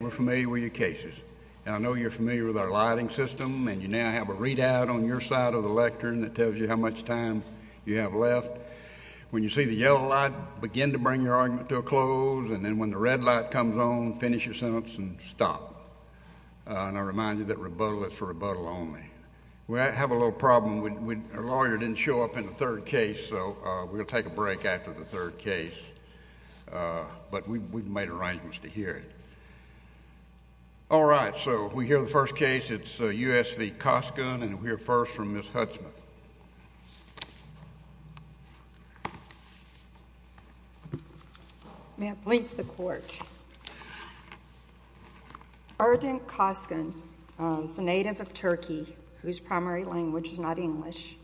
We're familiar with your cases. And I know you're familiar with our lighting system, and you now have a readout on your side of the lectern that tells you how much time you have left. When you see the yellow light, begin to bring your argument to a close, and then when the red light comes on, finish your sentence and stop. And I remind you that rebuttal is for rebuttal only. We have a little problem. Our lawyer didn't show up in the third case, so we'll take a break after the third case. But we've made arrangements to hear it. All right. So we hear the first case. It's U.S. v. Coskun, and we'll hear first from Ms. Hutsman. Erdinc Coskun is a native of Turkey whose primary language is not English,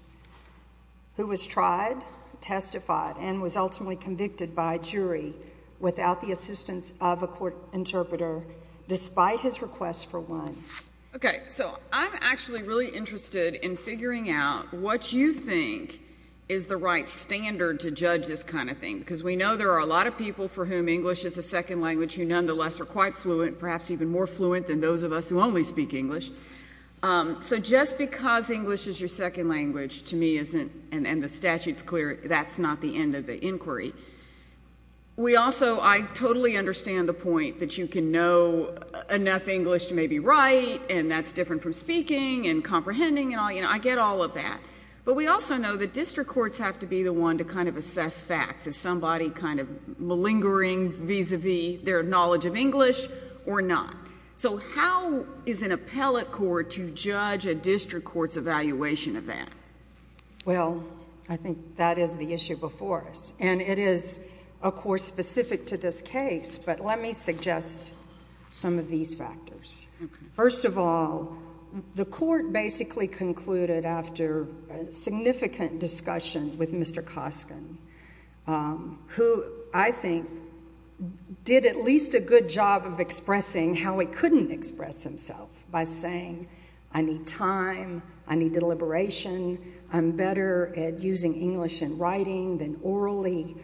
who was tried, testified, and was ultimately convicted by a jury without the assistance of a court interpreter, despite his request for one. Okay. So I'm actually really interested in figuring out what you think is the right standard to judge this kind of thing, because we know there are a lot of people for whom English is a second language who nonetheless are quite fluent, perhaps even more fluent than those of us who only speak English. So just because English is your second language to me isn't, and the statute's clear, that's not the end of the inquiry. We also, I totally understand the point that you can know enough English to maybe write, and that's different from speaking and comprehending and all, you know, I get all of that. But we also know that district courts have to be the one to kind of assess facts. Is somebody kind of malingering vis-a-vis their knowledge of English or not? So how is an appellate court to judge a district court's evaluation of that? Well, I think that is the issue before us. And it is, of course, specific to this case, but let me suggest some of these factors. First of all, the court basically concluded after a significant discussion with Mr. Koskin, who I think did at least a good job of expressing how he couldn't express himself by saying, I need time, I need deliberation, I'm better at using English in writing than orally,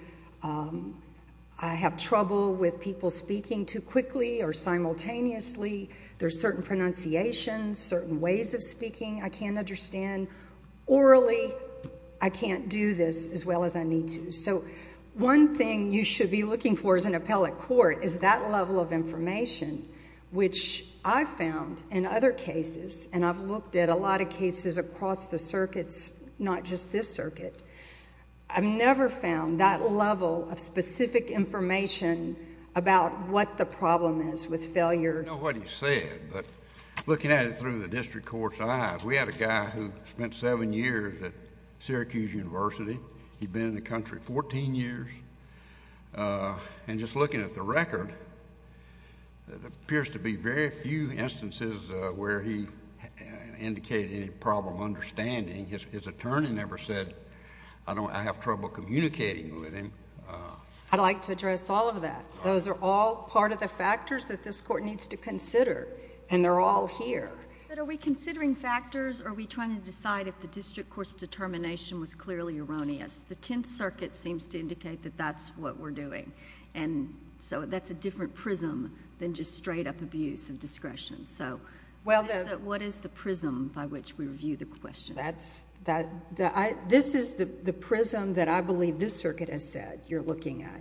I have trouble with people speaking too quickly or simultaneously, there's certain pronunciations, certain ways of speaking I can't understand. Orally, I can't do this as well as I need to. So one thing you should be looking for as an appellate court is that level of information, which I've found in other cases, and I've looked at a lot of cases across the circuits, not just this circuit, I've never found that level of specific information about what the problem is with failure. I know what he said, but looking at it through the district court's eyes, we had a guy who spent seven years at Syracuse University. He'd been in the country 14 years. And just looking at the record, there appears to be very few instances where he indicated any problem understanding. His attorney never said, I have trouble communicating with him. I'd like to address all of that. Those are all part of the factors that this court needs to consider, and they're all here. But are we considering factors, or are we trying to decide if the district court's determination was clearly erroneous? The Tenth Circuit seems to indicate that that's what we're doing. And so that's a different prism than just straight-up abuse of discretion. So what is the prism by which we review the question? This is the prism that I believe this circuit has said you're looking at.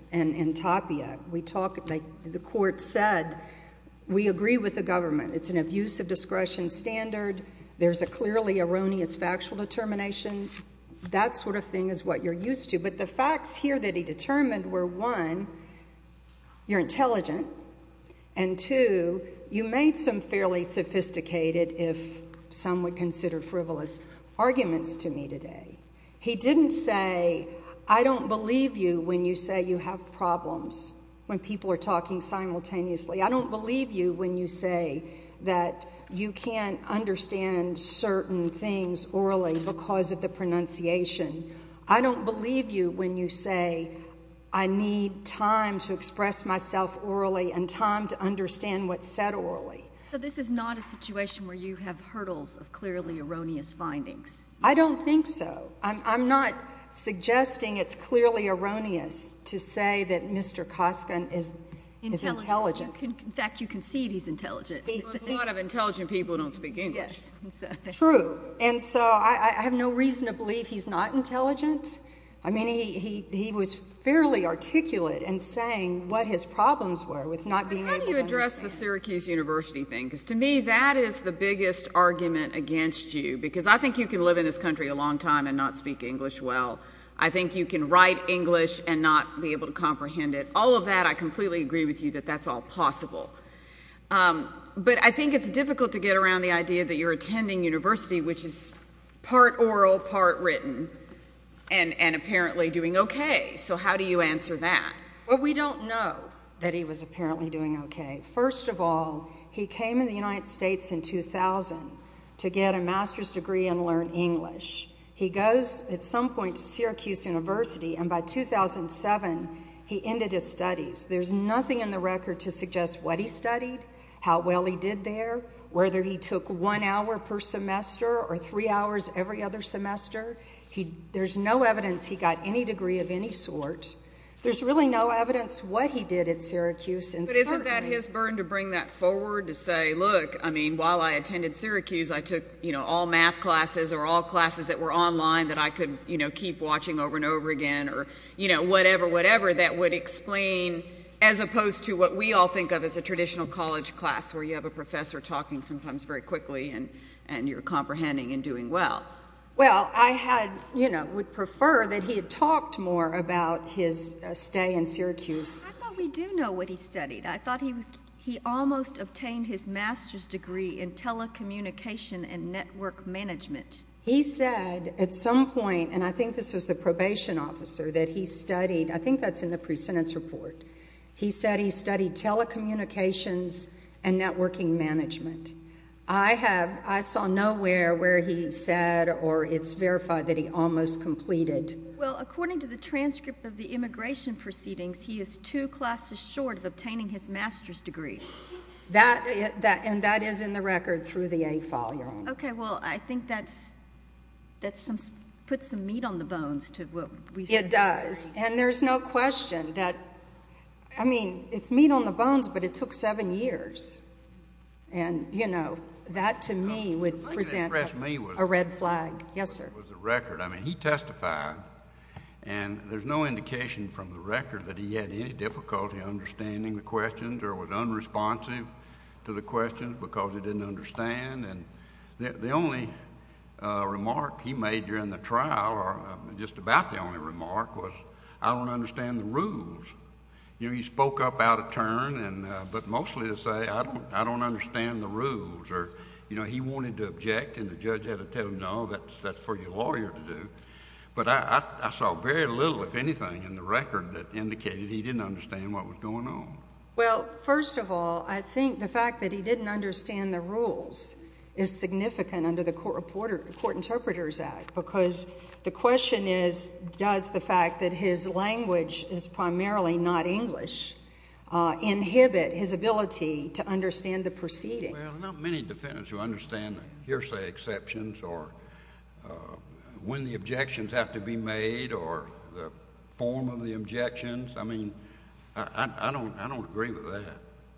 We talk, like the court said, we agree with the government. It's an abuse of discretion standard. There's a clearly erroneous factual determination. That sort of thing is what you're used to. But the facts here that he determined were, one, you're intelligent, and two, you made some fairly sophisticated, if some would consider frivolous, arguments to me today. He didn't say, I don't believe you when you say you have problems when people are talking simultaneously. I don't believe you when you say that you can't understand certain things orally because of the pronunciation. I don't believe you when you say, I need time to express myself orally and time to understand what's said orally. So this is not a situation where you have hurdles of clearly erroneous findings? I don't think so. I'm not suggesting it's clearly erroneous to say that Mr. Koskin is intelligent. In fact, you concede he's intelligent. A lot of intelligent people don't speak English. True. And so I have no reason to believe he's not intelligent. I mean, he was fairly articulate in saying what his problems were with not being able to understand. How do you address the Syracuse University thing? Because to me, that is the biggest argument against you, because I think you can live in this country a long time and not speak English well. I think you can write English and not be able to comprehend it. All of that, I completely agree with you that that's all possible. But I think it's difficult to get around the idea that you're attending university, which is part oral, part written, and apparently doing okay. So how do you answer that? Well, we don't know that he was apparently doing okay. First of all, he came to the United States in 2000 to get a master's degree and learn English. He goes at some point to Syracuse University, and by 2007, he ended his studies. There's nothing in the record to suggest what he studied, how well he did there, whether he took one hour per semester or three hours every other semester. There's no evidence he got any degree of any sort. There's really no evidence what he did at Syracuse. But isn't that his burden to bring that forward, to say, look, I mean, while I attended Syracuse, I took, you know, all math classes or all classes that were online that I could, you know, keep watching over and over again or, you know, whatever, whatever. That would explain, as opposed to what we all think of as a traditional college class where you have a professor talking sometimes very quickly and you're comprehending and doing well. Well, I had, you know, would prefer that he had talked more about his stay in Syracuse. I thought we do know what he studied. I thought he almost obtained his master's degree in telecommunication and network management. He said at some point, and I think this was the probation officer that he studied. I think that's in the pre-sentence report. He said he studied telecommunications and networking management. I have, I saw nowhere where he said or it's verified that he almost completed. Well, according to the transcript of the immigration proceedings, he is two classes short of obtaining his master's degree. That, and that is in the record through the AFOL, Your Honor. Okay. Well, I think that's, that's some, puts some meat on the bones to what we. It does. And there's no question that, I mean, it's meat on the bones, but it took seven years. And, you know, that to me would present a red flag. Yes, sir. I think it was the record. I mean, he testified, and there's no indication from the record that he had any difficulty understanding the questions or was unresponsive to the questions because he didn't understand. And the only remark he made during the trial, or just about the only remark, was, I don't understand the rules. You know, he spoke up out of turn, but mostly to say, I don't understand the rules. You know, he wanted to object, and the judge had to tell him, no, that's for your lawyer to do. But I saw very little, if anything, in the record that indicated he didn't understand what was going on. Well, first of all, I think the fact that he didn't understand the rules is significant under the Court Interpreters Act because the question is, does the fact that his language is primarily not English inhibit his ability to understand the proceedings? Well, there are not many defendants who understand the hearsay exceptions or when the objections have to be made or the form of the objections. I mean, I don't agree with that.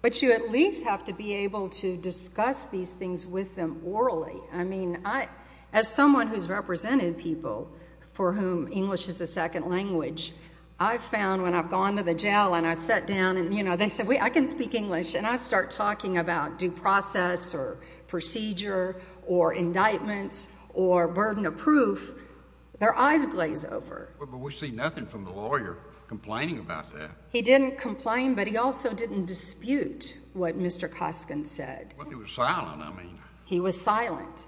But you at least have to be able to discuss these things with them orally. I mean, as someone who's represented people for whom English is a second language, I've found when I've gone to the jail and I sit down and, you know, they say, wait, I can speak English, and I start talking about due process or procedure or indictments or burden of proof, their eyes glaze over. But we see nothing from the lawyer complaining about that. He didn't complain, but he also didn't dispute what Mr. Koskin said. Well, he was silent, I mean. He was silent.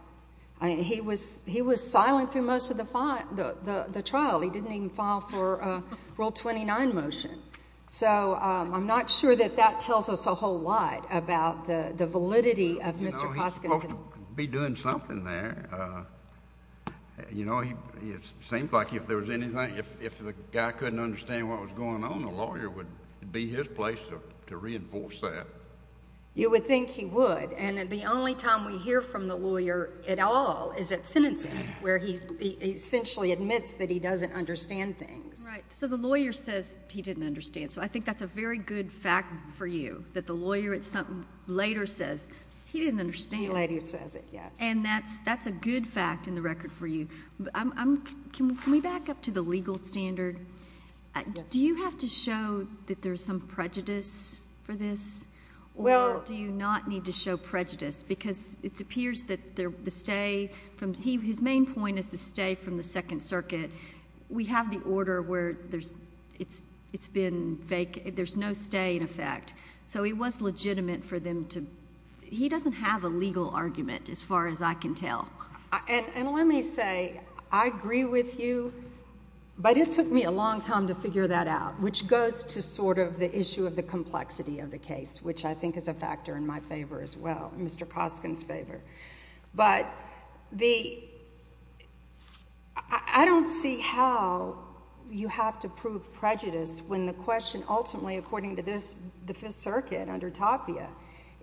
He was silent through most of the trial. He didn't even file for Rule 29 motion. So I'm not sure that that tells us a whole lot about the validity of Mr. Koskin. You know, he ought to be doing something there. You know, it seems like if there was anything, if the guy couldn't understand what was going on, the lawyer would be his place to reinforce that. You would think he would. And the only time we hear from the lawyer at all is at sentencing, where he essentially admits that he doesn't understand things. Right. So the lawyer says he didn't understand. So I think that's a very good fact for you, that the lawyer later says, he didn't understand. He later says it, yes. And that's a good fact in the record for you. Can we back up to the legal standard? Do you have to show that there's some prejudice for this, or do you not need to show prejudice? Because it appears that the stay from his main point is the stay from the Second Circuit. We have the order where it's been vacant. There's no stay in effect. So he was legitimate for them to be. He doesn't have a legal argument as far as I can tell. And let me say, I agree with you, but it took me a long time to figure that out, which goes to sort of the issue of the complexity of the case, which I think is a factor in my favor as well, Mr. Koskin's favor. But I don't see how you have to prove prejudice when the question ultimately, according to the Fifth Circuit under Tapia,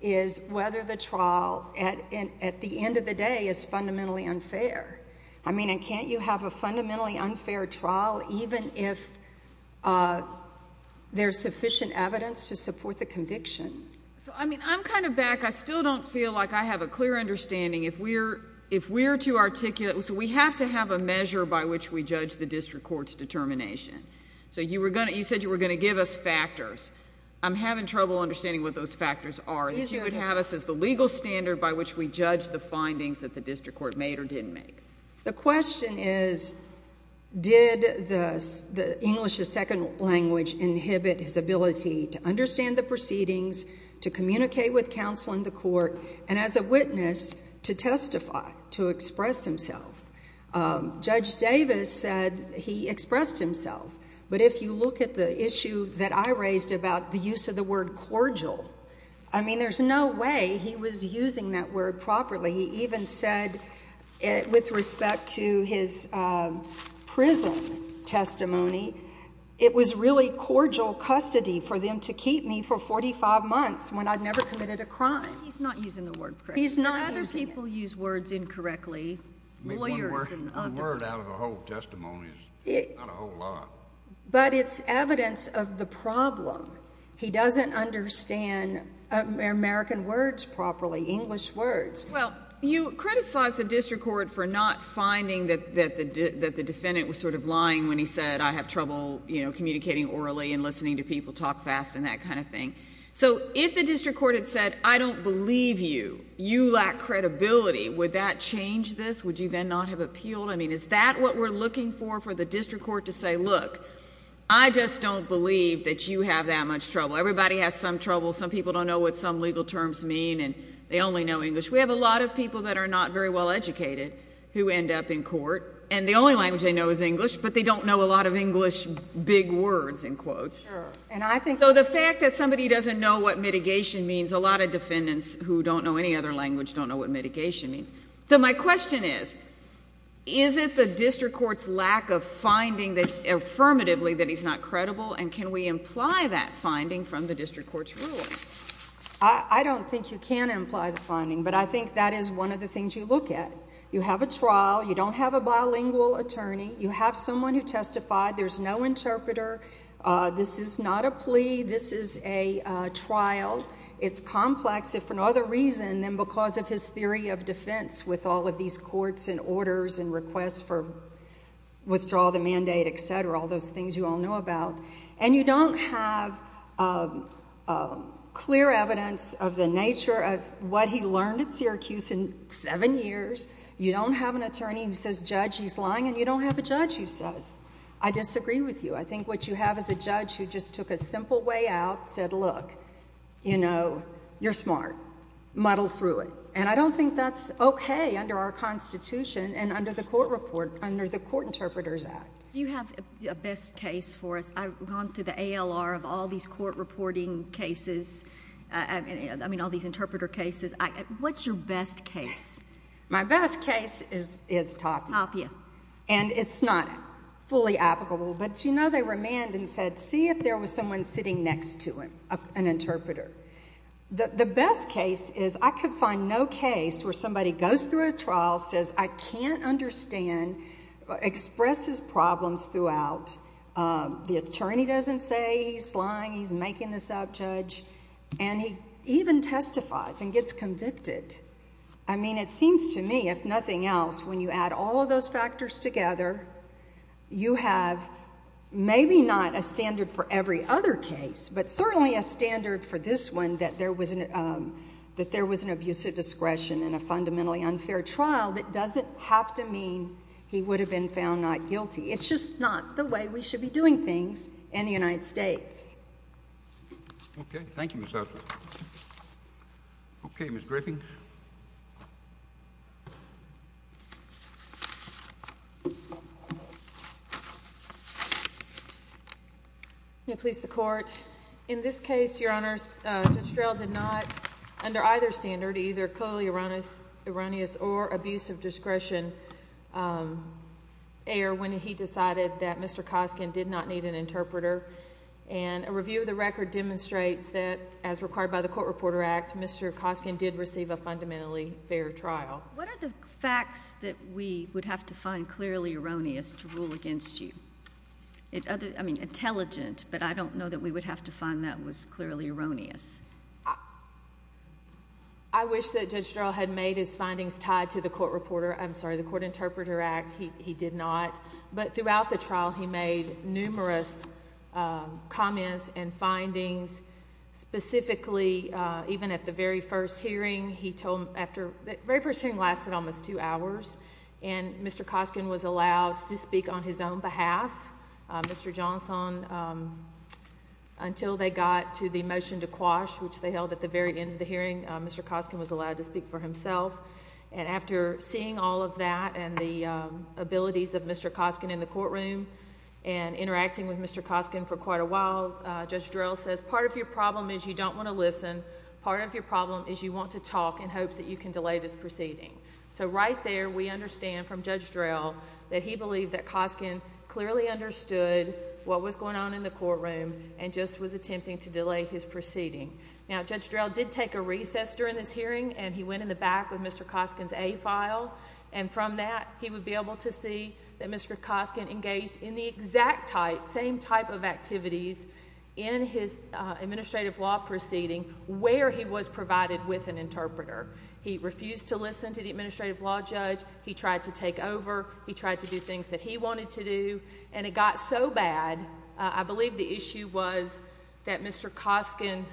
is whether the trial at the end of the day is fundamentally unfair. I mean, can't you have a fundamentally unfair trial even if there's sufficient evidence to support the conviction? So, I mean, I'm kind of back. I still don't feel like I have a clear understanding. If we're too articulate, so we have to have a measure by which we judge the district court's determination. So you said you were going to give us factors. I'm having trouble understanding what those factors are. You would have us as the legal standard by which we judge the findings that the district court made or didn't make. The question is, did English as second language inhibit his ability to understand the proceedings, to communicate with counsel in the court, and as a witness, to testify, to express himself? Judge Davis said he expressed himself. But if you look at the issue that I raised about the use of the word cordial, I mean, there's no way he was using that word properly. He even said with respect to his prison testimony, it was really cordial custody for them to keep me for 45 months when I'd never committed a crime. He's not using the word correctly. He's not using it. Other people use words incorrectly, lawyers and others. One word out of a whole testimony is not a whole lot. But it's evidence of the problem. He doesn't understand American words properly, English words. Well, you criticized the district court for not finding that the defendant was sort of lying when he said, I have trouble, you know, communicating orally and listening to people talk fast and that kind of thing. So if the district court had said, I don't believe you, you lack credibility, would that change this? Would you then not have appealed? I mean, is that what we're looking for for the district court to say, look, I just don't believe that you have that much trouble. Everybody has some trouble. Some people don't know what some legal terms mean and they only know English. We have a lot of people that are not very well educated who end up in court and the only language they know is English, but they don't know a lot of English big words in quotes. So the fact that somebody doesn't know what mitigation means, a lot of defendants who don't know any other language don't know what mitigation means. So my question is, is it the district court's lack of finding that affirmatively that he's not credible and can we imply that finding from the district court's ruling? I don't think you can imply the finding, but I think that is one of the things you look at. You have a trial. You don't have a bilingual attorney. You have someone who testified. There's no interpreter. This is not a plea. This is a trial. It's complex if for no other reason than because of his theory of defense with all of these courts and orders and requests for withdrawal of the mandate, et cetera, all those things you all know about, and you don't have clear evidence of the nature of what he learned at Syracuse in seven years. You don't have an attorney who says, Judge, he's lying, and you don't have a judge who says, I disagree with you. I think what you have is a judge who just took a simple way out, said, look, you know, you're smart. Muddle through it. And I don't think that's okay under our Constitution and under the court report, under the Court Interpreters Act. You have a best case for us. I've gone to the ALR of all these court reporting cases, I mean, all these interpreter cases. What's your best case? My best case is Tapia. Tapia. And it's not fully applicable, but, you know, they remanded and said, see if there was someone sitting next to him, an interpreter. The best case is I could find no case where somebody goes through a trial, says, I can't understand, expresses problems throughout, the attorney doesn't say he's lying, he's making this up, Judge, and he even testifies and gets convicted. I mean, it seems to me, if nothing else, when you add all of those factors together, you have maybe not a standard for every other case, but certainly a standard for this one that there was an abusive discretion in a fundamentally unfair trial that doesn't have to mean he would have been found not guilty. It's just not the way we should be doing things in the United States. Okay. Thank you, Ms. Arthur. Okay, Ms. Griffin. May it please the Court. In this case, Your Honors, Judge Drell did not, under either standard, either clearly erroneous or abusive discretion err when he decided that Mr. Koskin did not need an interpreter. And a review of the record demonstrates that, as required by the Court Reporter Act, Mr. Koskin did receive a fundamentally fair trial. What are the facts that we would have to find clearly erroneous to rule against you? I mean, intelligent, but I don't know that we would have to find that was clearly erroneous. I wish that Judge Drell had made his findings tied to the Court Reporter, I'm sorry, the Court Interpreter Act. He did not. But throughout the trial, he made numerous comments and findings. Specifically, even at the very first hearing, he told after the very first hearing lasted almost two hours, and Mr. Koskin was allowed to speak on his own behalf. Mr. Johnson, until they got to the motion to quash, which they held at the very end of the hearing, Mr. Koskin was allowed to speak for himself. And after seeing all of that and the abilities of Mr. Koskin in the courtroom and interacting with Mr. Koskin for quite a while, Judge Drell says, part of your problem is you don't want to listen. Part of your problem is you want to talk in hopes that you can delay this proceeding. So right there, we understand from Judge Drell that he believed that Koskin clearly understood what was going on in the courtroom and just was attempting to delay his proceeding. Now, Judge Drell did take a recess during this hearing, and he went in the back with Mr. Koskin's A file, and from that, he would be able to see that Mr. Koskin engaged in the exact same type of activities in his administrative law proceeding where he was provided with an interpreter. He refused to listen to the administrative law judge. He tried to take over. He tried to do things that he wanted to do, and it got so bad, I believe the issue was that Mr. Koskin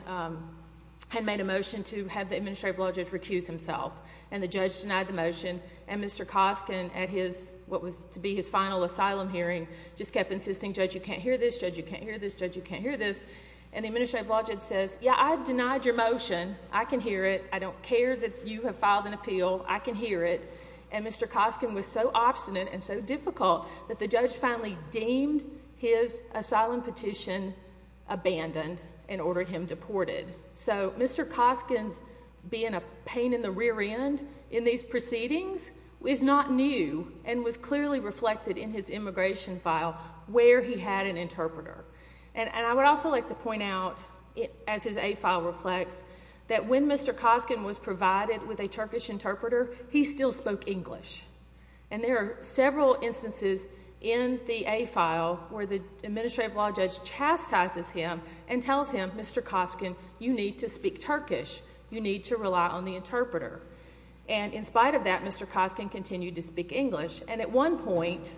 had made a motion to have the administrative law judge recuse himself, and the judge denied the motion, and Mr. Koskin, at what was to be his final asylum hearing, just kept insisting, Judge, you can't hear this. Judge, you can't hear this. Judge, you can't hear this. And the administrative law judge says, Yeah, I denied your motion. I can hear it. I don't care that you have filed an appeal. I can hear it. And Mr. Koskin was so obstinate and so difficult that the judge finally deemed his asylum petition abandoned and ordered him deported. So Mr. Koskin's being a pain in the rear end in these proceedings is not new and was clearly reflected in his immigration file where he had an interpreter. And I would also like to point out, as his A file reflects, that when Mr. Koskin was provided with a Turkish interpreter, he still spoke English. And there are several instances in the A file where the administrative law judge chastises him and tells him, Mr. Koskin, you need to speak Turkish. You need to rely on the interpreter. And in spite of that, Mr. Koskin continued to speak English. And at one point,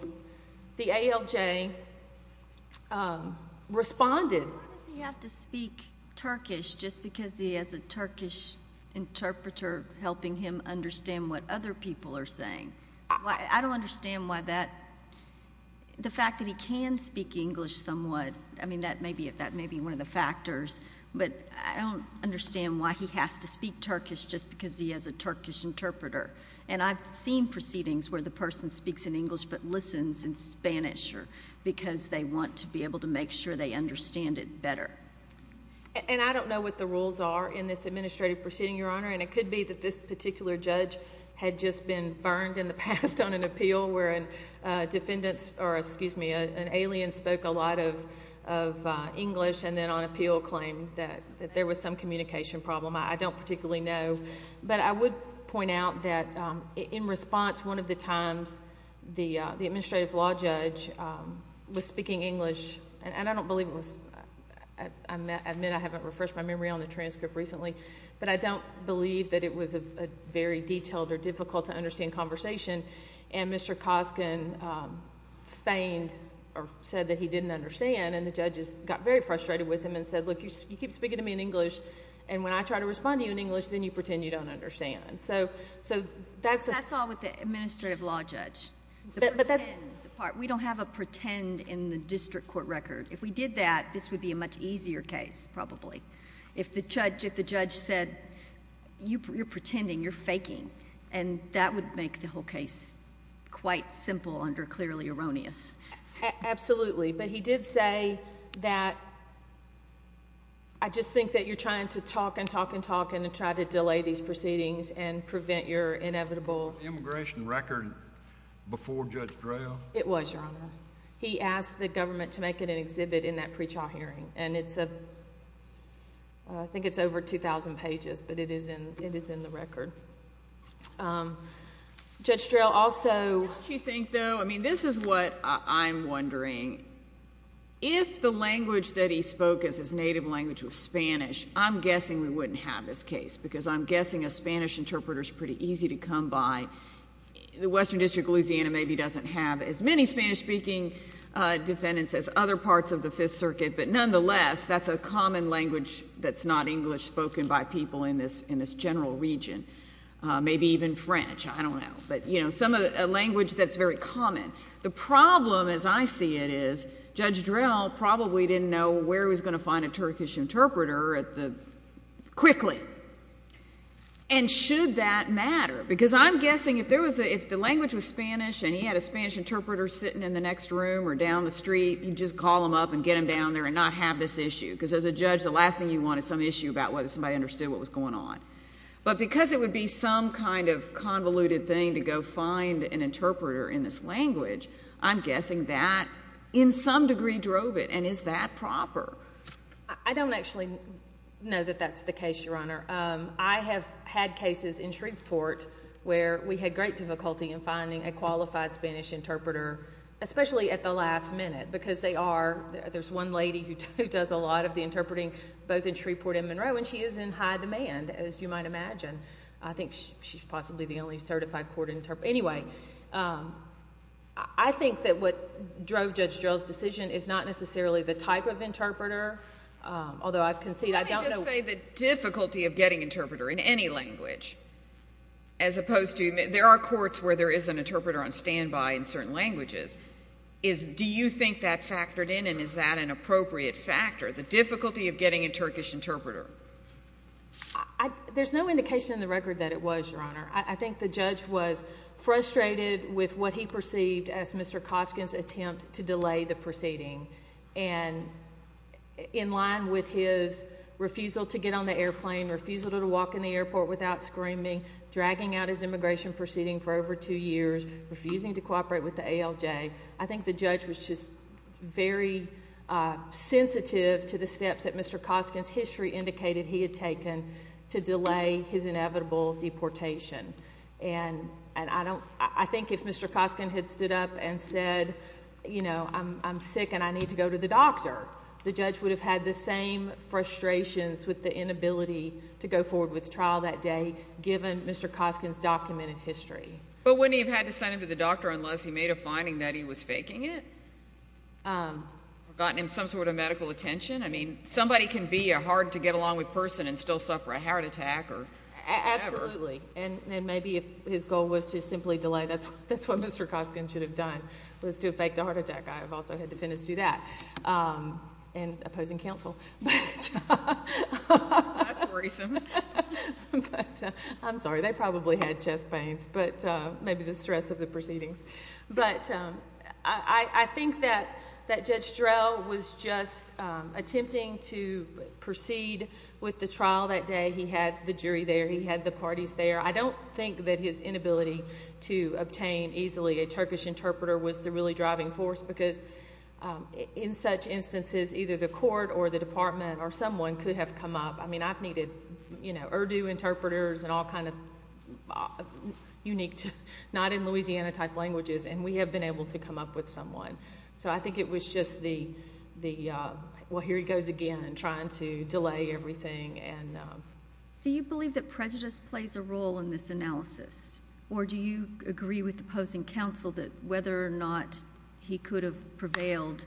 the ALJ responded. Why does he have to speak Turkish just because he has a Turkish interpreter helping him understand what other people are saying? I don't understand why that, the fact that he can speak English somewhat, I mean, that may be one of the factors. But I don't understand why he has to speak Turkish just because he has a Turkish interpreter. And I've seen proceedings where the person speaks in English but listens in Spanish because they want to be able to make sure they understand it better. And I don't know what the rules are in this administrative proceeding, Your Honor, and it could be that this particular judge had just been burned in the past on an appeal where an alien spoke a lot of English and then on appeal claimed that there was some communication problem. I don't particularly know. But I would point out that in response, one of the times the administrative law judge was speaking English, and I don't believe it was, I admit I haven't refreshed my memory on the transcript recently, but I don't believe that it was a very detailed or difficult to understand conversation. And Mr. Koskin feigned or said that he didn't understand, and the judges got very frustrated with him and said, look, you keep speaking to me in English, and when I try to respond to you in English, then you pretend you don't understand. So that's a... That's all with the administrative law judge. But that's... We don't have a pretend in the district court record. If we did that, this would be a much easier case probably. If the judge said, you're pretending, you're faking, and that would make the whole case quite simple under clearly erroneous. Absolutely. But he did say that I just think that you're trying to talk and talk and talk and try to delay these proceedings and prevent your inevitable... Immigration record before Judge Drell? It was, Your Honor. He asked the government to make it an exhibit in that pre-trial hearing, and it's a...I think it's over 2,000 pages, but it is in the record. Judge Drell also... I think, though, I mean, this is what I'm wondering. If the language that he spoke as his native language was Spanish, I'm guessing we wouldn't have this case because I'm guessing a Spanish interpreter is pretty easy to come by. The Western District of Louisiana maybe doesn't have as many Spanish-speaking defendants as other parts of the Fifth Circuit, but nonetheless, that's a common language that's not English spoken by people in this general region, maybe even French. I don't know. But, you know, a language that's very common. The problem, as I see it, is Judge Drell probably didn't know where he was going to find a Turkish interpreter quickly. And should that matter? Because I'm guessing if the language was Spanish and he had a Spanish interpreter sitting in the next room or down the street, he'd just call them up and get them down there and not have this issue because, as a judge, the last thing you want is some issue about whether somebody understood what was going on. But because it would be some kind of convoluted thing to go find an interpreter in this language, I'm guessing that in some degree drove it, and is that proper? I don't actually know that that's the case, Your Honor. I have had cases in Shreveport where we had great difficulty in finding a qualified Spanish interpreter, especially at the last minute, because there's one lady who does a lot of the interpreting both in Shreveport and Monroe and she is in high demand, as you might imagine. I think she's possibly the only certified court interpreter. Anyway, I think that what drove Judge Drell's decision is not necessarily the type of interpreter, although I concede I don't know. Let me just say the difficulty of getting an interpreter in any language, as opposed to there are courts where there is an interpreter on standby in certain languages. Do you think that factored in, and is that an appropriate factor, the difficulty of getting a Turkish interpreter? There's no indication in the record that it was, Your Honor. I think the judge was frustrated with what he perceived as Mr. Koskin's attempt to delay the proceeding, in line with his refusal to get on the airplane, refusal to walk in the airport without screaming, dragging out his immigration proceeding for over two years, refusing to cooperate with the ALJ. I think the judge was just very sensitive to the steps that Mr. Koskin's history indicated he had taken to delay his inevitable deportation. And I think if Mr. Koskin had stood up and said, you know, I'm sick and I need to go to the doctor, the judge would have had the same frustrations with the inability to go forward with trial that day, given Mr. Koskin's documented history. But wouldn't he have had to send him to the doctor unless he made a finding that he was faking it? Or gotten him some sort of medical attention? I mean, somebody can be a hard-to-get-along-with person and still suffer a heart attack or whatever. Absolutely. And maybe if his goal was to simply delay, that's what Mr. Koskin should have done, was to fake the heart attack. I've also had defendants do that, and opposing counsel. That's worrisome. I'm sorry. They probably had chest pains, but maybe the stress of the proceedings. But I think that Judge Drell was just attempting to proceed with the trial that day. He had the jury there. He had the parties there. I don't think that his inability to obtain easily a Turkish interpreter was the really driving force, because in such instances, either the court or the department or someone could have come up. I mean, I've needed Urdu interpreters and all kind of unique, not-in-Louisiana-type languages, and we have been able to come up with someone. So I think it was just the, well, here he goes again, trying to delay everything. Do you believe that prejudice plays a role in this analysis? Or do you agree with opposing counsel that whether or not he could have prevailed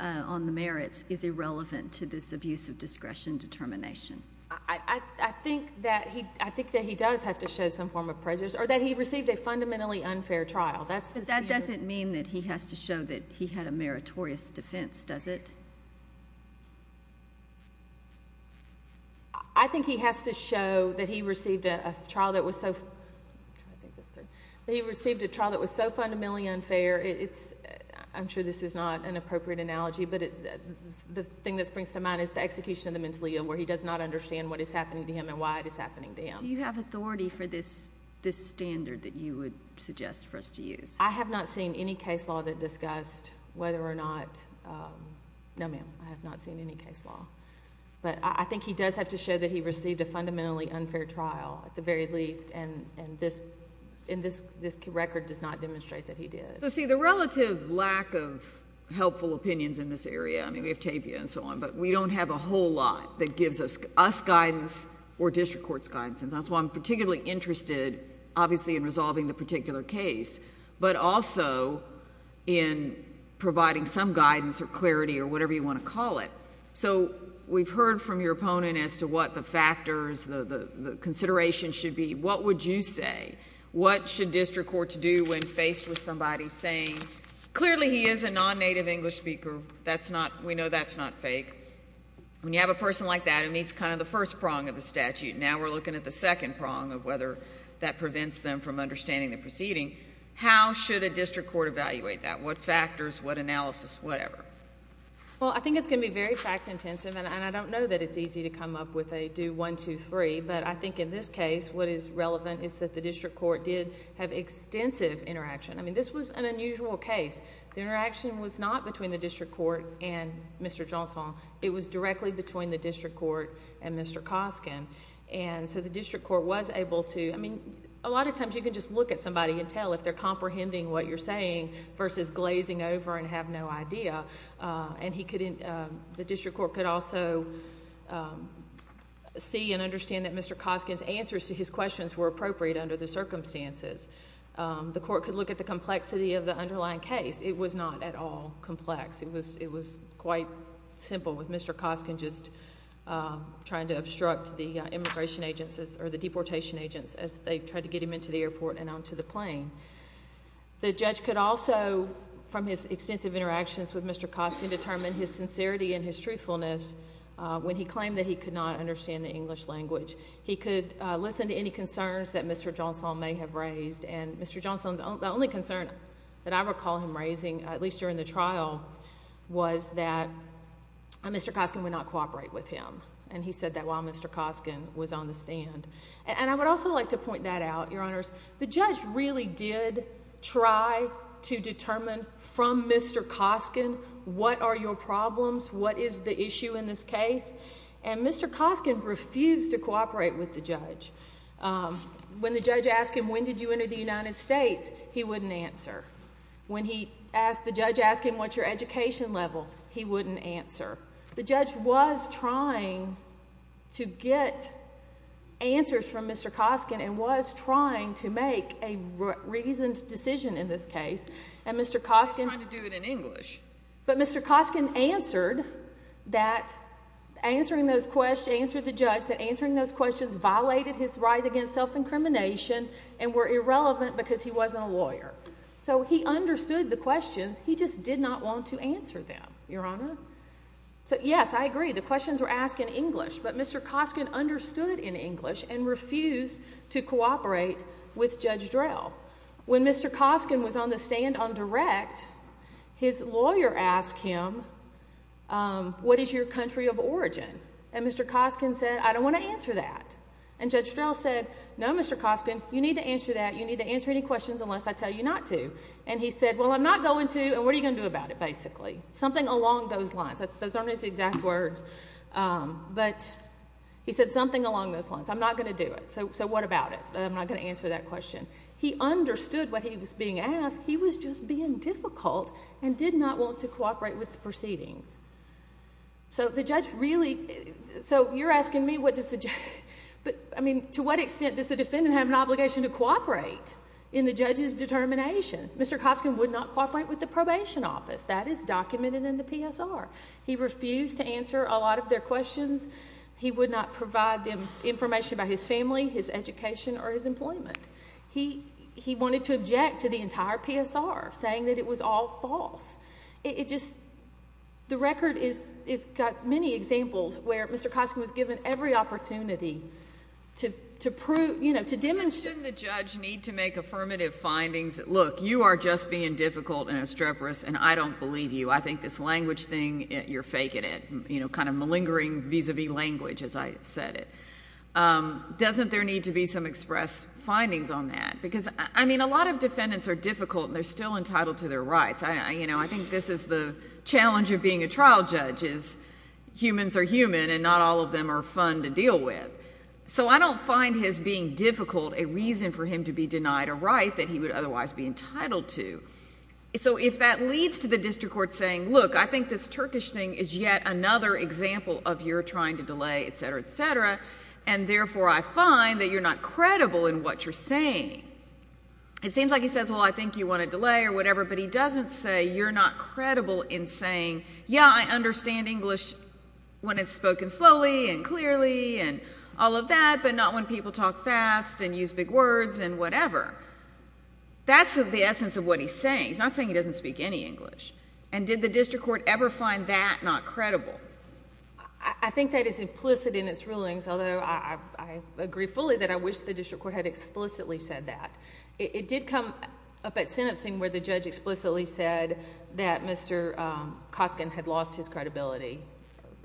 on the merits is irrelevant to this abuse of discretion determination? I think that he does have to show some form of prejudice, or that he received a fundamentally unfair trial. That doesn't mean that he has to show that he had a meritorious defense, does it? I think he has to show that he received a trial that was so fundamentally unfair. I'm sure this is not an appropriate analogy, but the thing that springs to mind is the execution of the mentally ill, where he does not understand what is happening to him and why it is happening to him. Do you have authority for this standard that you would suggest for us to use? I have not seen any case law that discussed whether or not, no, ma'am, I have not seen any case law. But I think he does have to show that he received a fundamentally unfair trial, at the very least, and this record does not demonstrate that he did. So, see, the relative lack of helpful opinions in this area, I mean, we have tapia and so on, but we don't have a whole lot that gives us guidance or district courts guidance, and that's why I'm particularly interested, obviously, in resolving the particular case, but also in providing some guidance or clarity or whatever you want to call it. So we've heard from your opponent as to what the factors, the considerations should be. What would you say? What should district courts do when faced with somebody saying, clearly he is a non-native English speaker, we know that's not fake. When you have a person like that who meets kind of the first prong of the statute, now we're looking at the second prong of whether that prevents them from understanding the proceeding. How should a district court evaluate that? What factors? What analysis? Whatever. Well, I think it's going to be very fact-intensive, and I don't know that it's easy to come up with a do 1, 2, 3, but I think in this case what is relevant is that the district court did have extensive interaction. I mean, this was an unusual case. The interaction was not between the district court and Mr. Johnson. It was directly between the district court and Mr. Koskin. And so the district court was able to, I mean, a lot of times you can just look at somebody and tell if they're comprehending what you're saying versus glazing over and have no idea. And the district court could also see and understand that Mr. Koskin's answers to his questions were appropriate under the circumstances. The court could look at the complexity of the underlying case. It was not at all complex. It was quite simple with Mr. Koskin just trying to obstruct the immigration agents or the deportation agents as they tried to get him into the airport and onto the plane. The judge could also, from his extensive interactions with Mr. Koskin, determine his sincerity and his truthfulness when he claimed that he could not understand the English language. He could listen to any concerns that Mr. Johnson may have raised, and Mr. Johnson's only concern that I recall him raising, at least during the trial, was that Mr. Koskin would not cooperate with him. And he said that while Mr. Koskin was on the stand. And I would also like to point that out, Your Honors, the judge really did try to determine from Mr. Koskin what are your problems, what is the issue in this case, and Mr. Koskin refused to cooperate with the judge. When the judge asked him when did you enter the United States, he wouldn't answer. When the judge asked him what's your education level, he wouldn't answer. The judge was trying to get answers from Mr. Koskin and was trying to make a reasoned decision in this case, and Mr. Koskin. He was trying to do it in English. But Mr. Koskin answered that answering those questions, answered the judge that answering those questions violated his right against self-incrimination and were irrelevant because he wasn't a lawyer. So he understood the questions, he just did not want to answer them, Your Honor. So yes, I agree, the questions were asked in English, but Mr. Koskin understood in English and refused to cooperate with Judge Drell. When Mr. Koskin was on the stand on direct, his lawyer asked him, what is your country of origin? And Mr. Koskin said, I don't want to answer that. And Judge Drell said, no, Mr. Koskin, you need to answer that, you need to answer any questions unless I tell you not to. And he said, well, I'm not going to, and what are you going to do about it basically? Something along those lines. Those aren't his exact words, but he said something along those lines. I'm not going to do it. So what about it? I'm not going to answer that question. He understood what he was being asked. He was just being difficult and did not want to cooperate with the proceedings. So the judge really, so you're asking me what does the judge, he didn't have an obligation to cooperate in the judge's determination. Mr. Koskin would not cooperate with the probation office. That is documented in the PSR. He refused to answer a lot of their questions. He would not provide them information about his family, his education, or his employment. He wanted to object to the entire PSR, saying that it was all false. It just, the record has got many examples where Mr. Koskin was given every opportunity to prove, you know, to demonstrate. Shouldn't the judge need to make affirmative findings? Look, you are just being difficult and obstreperous, and I don't believe you. I think this language thing, you're faking it. You know, kind of malingering vis-a-vis language, as I said it. Doesn't there need to be some express findings on that? Because, I mean, a lot of defendants are difficult, and they're still entitled to their rights. You know, I think this is the challenge of being a trial judge is humans are human, and not all of them are fun to deal with. So I don't find his being difficult a reason for him to be denied a right that he would otherwise be entitled to. So if that leads to the district court saying, look, I think this Turkish thing is yet another example of your trying to delay, et cetera, et cetera, and therefore I find that you're not credible in what you're saying. It seems like he says, well, I think you want to delay or whatever, but he doesn't say you're not credible in saying, yeah, I understand English when it's spoken slowly and clearly and all of that, but not when people talk fast and use big words and whatever. That's the essence of what he's saying. He's not saying he doesn't speak any English. And did the district court ever find that not credible? I think that is implicit in its rulings, although I agree fully that I wish the district court had explicitly said that. It did come up at sentencing where the judge explicitly said that Mr. Cosken had lost his credibility,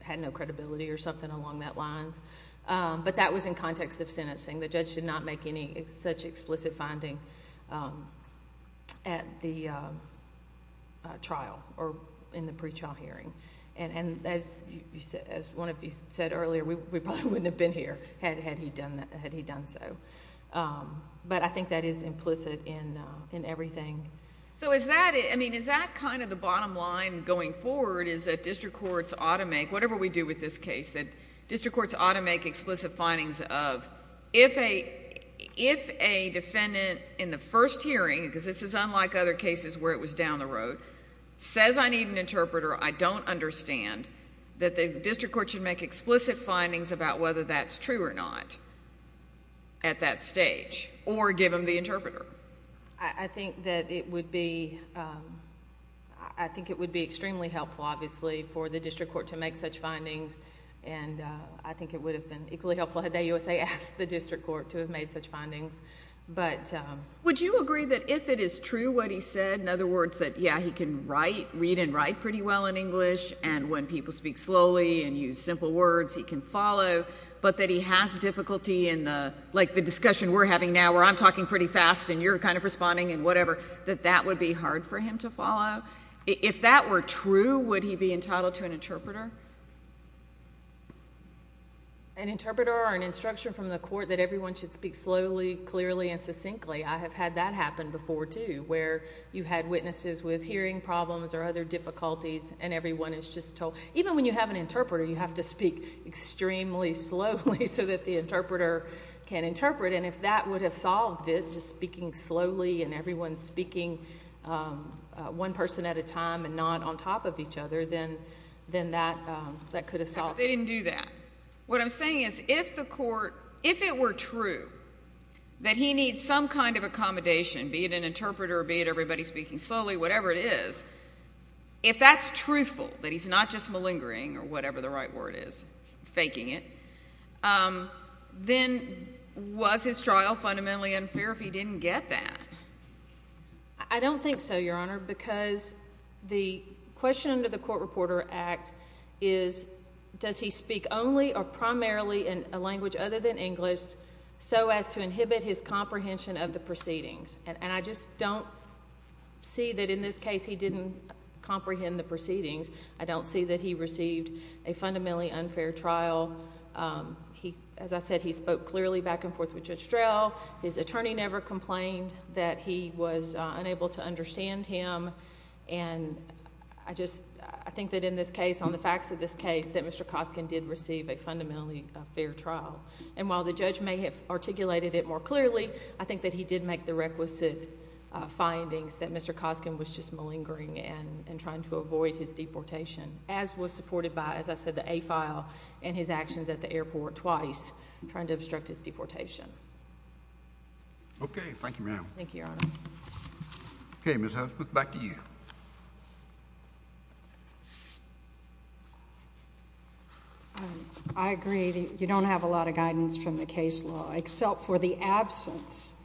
had no credibility or something along that lines. But that was in context of sentencing. The judge did not make any such explicit finding at the trial or in the pre-trial hearing. And as one of you said earlier, we probably wouldn't have been here had he done so. But I think that is implicit in everything. So is that kind of the bottom line going forward is that district courts ought to make, whatever we do with this case, that district courts ought to make explicit findings of, if a defendant in the first hearing, because this is unlike other cases where it was down the road, says I need an interpreter, I don't understand, that the district court should make explicit findings about whether that's true or not at that stage or give him the interpreter? I think that it would be extremely helpful, obviously, for the district court to make such findings. And I think it would have been equally helpful had the USA asked the district court to have made such findings. Would you agree that if it is true what he said, in other words, that, yeah, he can read and write pretty well in English and when people speak slowly and use simple words he can follow, but that he has difficulty in the, like the discussion we're having now where I'm talking pretty fast and you're kind of responding and whatever, that that would be hard for him to follow? If that were true, would he be entitled to an interpreter? An interpreter or an instruction from the court that everyone should speak slowly, clearly, and succinctly. I have had that happen before, too, where you've had witnesses with hearing problems or other difficulties and everyone is just told, even when you have an interpreter, you have to speak extremely slowly so that the interpreter can interpret, and if that would have solved it, just speaking slowly and everyone speaking one person at a time and not on top of each other, then that could have solved it. They didn't do that. What I'm saying is if the court, if it were true that he needs some kind of accommodation, be it an interpreter or be it everybody speaking slowly, whatever it is, if that's truthful, that he's not just malingering or whatever the right word is, faking it, then was his trial fundamentally unfair if he didn't get that? I don't think so, Your Honor, because the question under the Court Reporter Act is, does he speak only or primarily in a language other than English so as to inhibit his comprehension of the proceedings? And I just don't see that in this case he didn't comprehend the proceedings. I don't see that he received a fundamentally unfair trial. As I said, he spoke clearly back and forth with Judge Strel. His attorney never complained that he was unable to understand him, and I just think that in this case, on the facts of this case, that Mr. Koskin did receive a fundamentally fair trial. And while the judge may have articulated it more clearly, I think that he did make the requisite findings that Mr. Koskin was just malingering and trying to avoid his deportation, as was supported by, as I said, the A file and his actions at the airport twice trying to obstruct his deportation. Okay. Thank you, ma'am. Thank you, Your Honor. Okay, Ms. House, back to you. I agree. You don't have a lot of guidance from the case law, except for the absence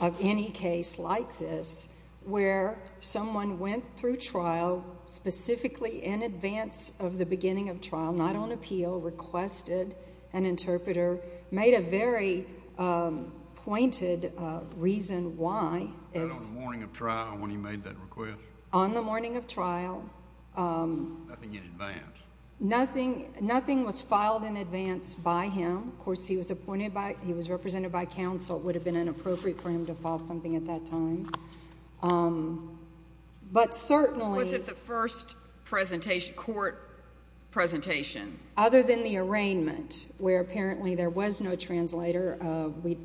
of any case like this where someone went through trial, specifically in advance of the beginning of trial, not on appeal, requested an interpreter, made a very pointed reason why. Was that on the morning of trial when he made that request? On the morning of trial. Nothing in advance. Nothing was filed in advance by him. Of course, he was appointed by, he was represented by counsel. It would have been inappropriate for him to file something at that time. Was it the first court presentation? Other than the arraignment, where apparently there was no translator.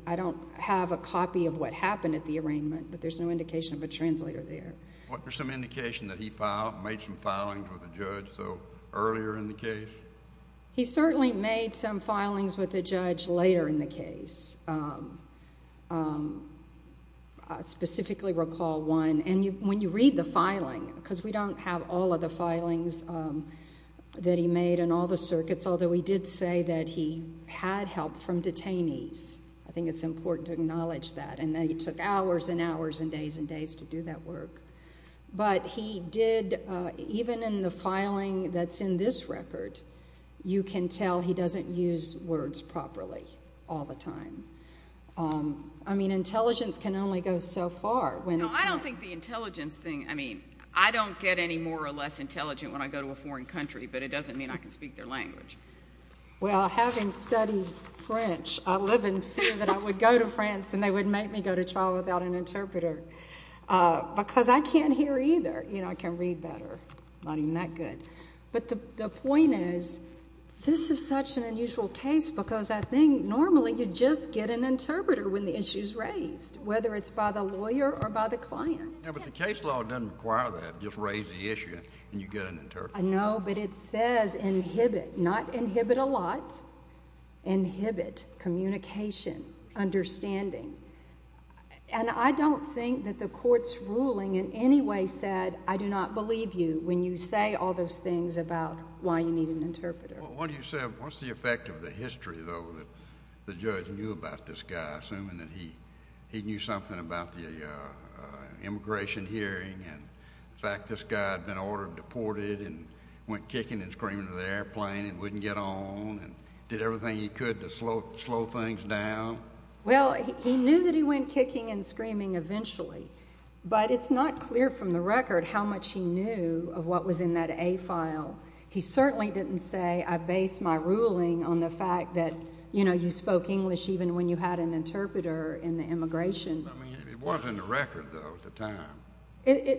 I don't have a copy of what happened at the arraignment, but there's no indication of a translator there. Was there some indication that he made some filings with the judge earlier in the case? He certainly made some filings with the judge later in the case. I specifically recall one. And when you read the filing, because we don't have all of the filings that he made in all the circuits, although he did say that he had help from detainees. I think it's important to acknowledge that, and that he took hours and hours and days and days to do that work. But he did, even in the filing that's in this record, you can tell he doesn't use words properly all the time. I mean, intelligence can only go so far. No, I don't think the intelligence thing, I mean, I don't get any more or less intelligent when I go to a foreign country, but it doesn't mean I can speak their language. Well, having studied French, I live in fear that I would go to France and they would make me go to trial without an interpreter, because I can't hear either. I can read better. I'm not even that good. But the point is, this is such an unusual case because I think normally you just get an interpreter when the issue is raised, whether it's by the lawyer or by the client. Yeah, but the case law doesn't require that. Just raise the issue and you get an interpreter. No, but it says inhibit. Not inhibit a lot. Inhibit communication, understanding. And I don't think that the court's ruling in any way said I do not believe you when you say all those things about why you need an interpreter. What do you say, what's the effect of the history, though, that the judge knew about this guy, assuming that he knew something about the immigration hearing and the fact this guy had been ordered deported and went kicking and screaming to the airplane and wouldn't get on and did everything he could to slow things down? Well, he knew that he went kicking and screaming eventually, but it's not clear from the record how much he knew of what was in that A file. He certainly didn't say, I base my ruling on the fact that, you know, you spoke English even when you had an interpreter in the immigration. I mean, it wasn't in the record, though, at the time.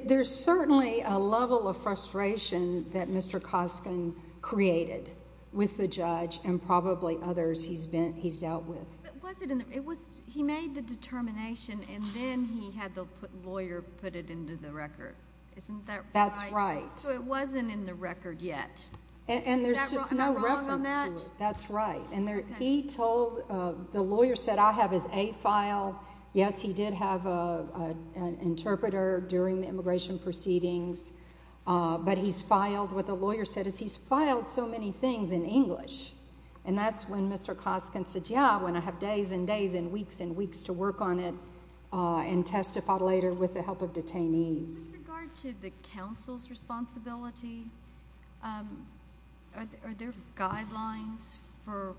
There's certainly a level of frustration that Mr. Koskin created with the judge and probably others he's dealt with. But was it in the record? He made the determination and then he had the lawyer put it into the record. Isn't that right? That's right. So it wasn't in the record yet. And there's just no reference to it. Is that wrong on that? That's right. The lawyer said, I have his A file. Yes, he did have an interpreter during the immigration proceedings, but what the lawyer said is he's filed so many things in English, and that's when Mr. Koskin said, yeah, when I have days and days and weeks and weeks to work on it and testify later with the help of detainees. With regard to the counsel's responsibility, are there guidelines for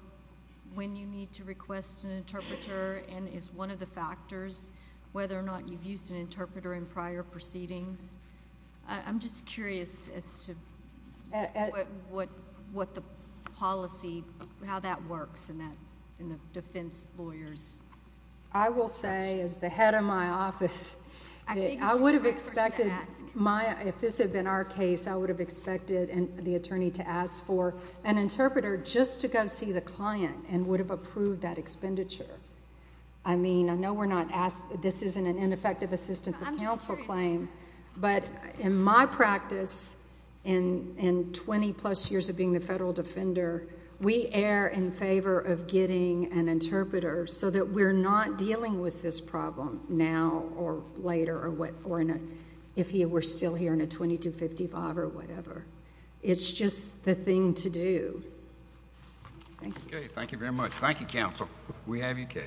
when you need to request an interpreter and is one of the factors whether or not you've used an interpreter in prior proceedings? I'm just curious as to what the policy, how that works in the defense lawyers. I will say as the head of my office, I would have expected my, if this had been our case, I would have expected the attorney to ask for an interpreter just to go see the client and would have approved that expenditure. I mean, I know this isn't an ineffective assistance of counsel claim, but in my practice in twenty plus years of being the federal defender, we err in favor of getting an interpreter so that we're not dealing with this problem now or later or if he were still here in a 2255 or whatever. It's just the thing to do. Thank you. Okay, thank you very much. Thank you, counsel. We have your case.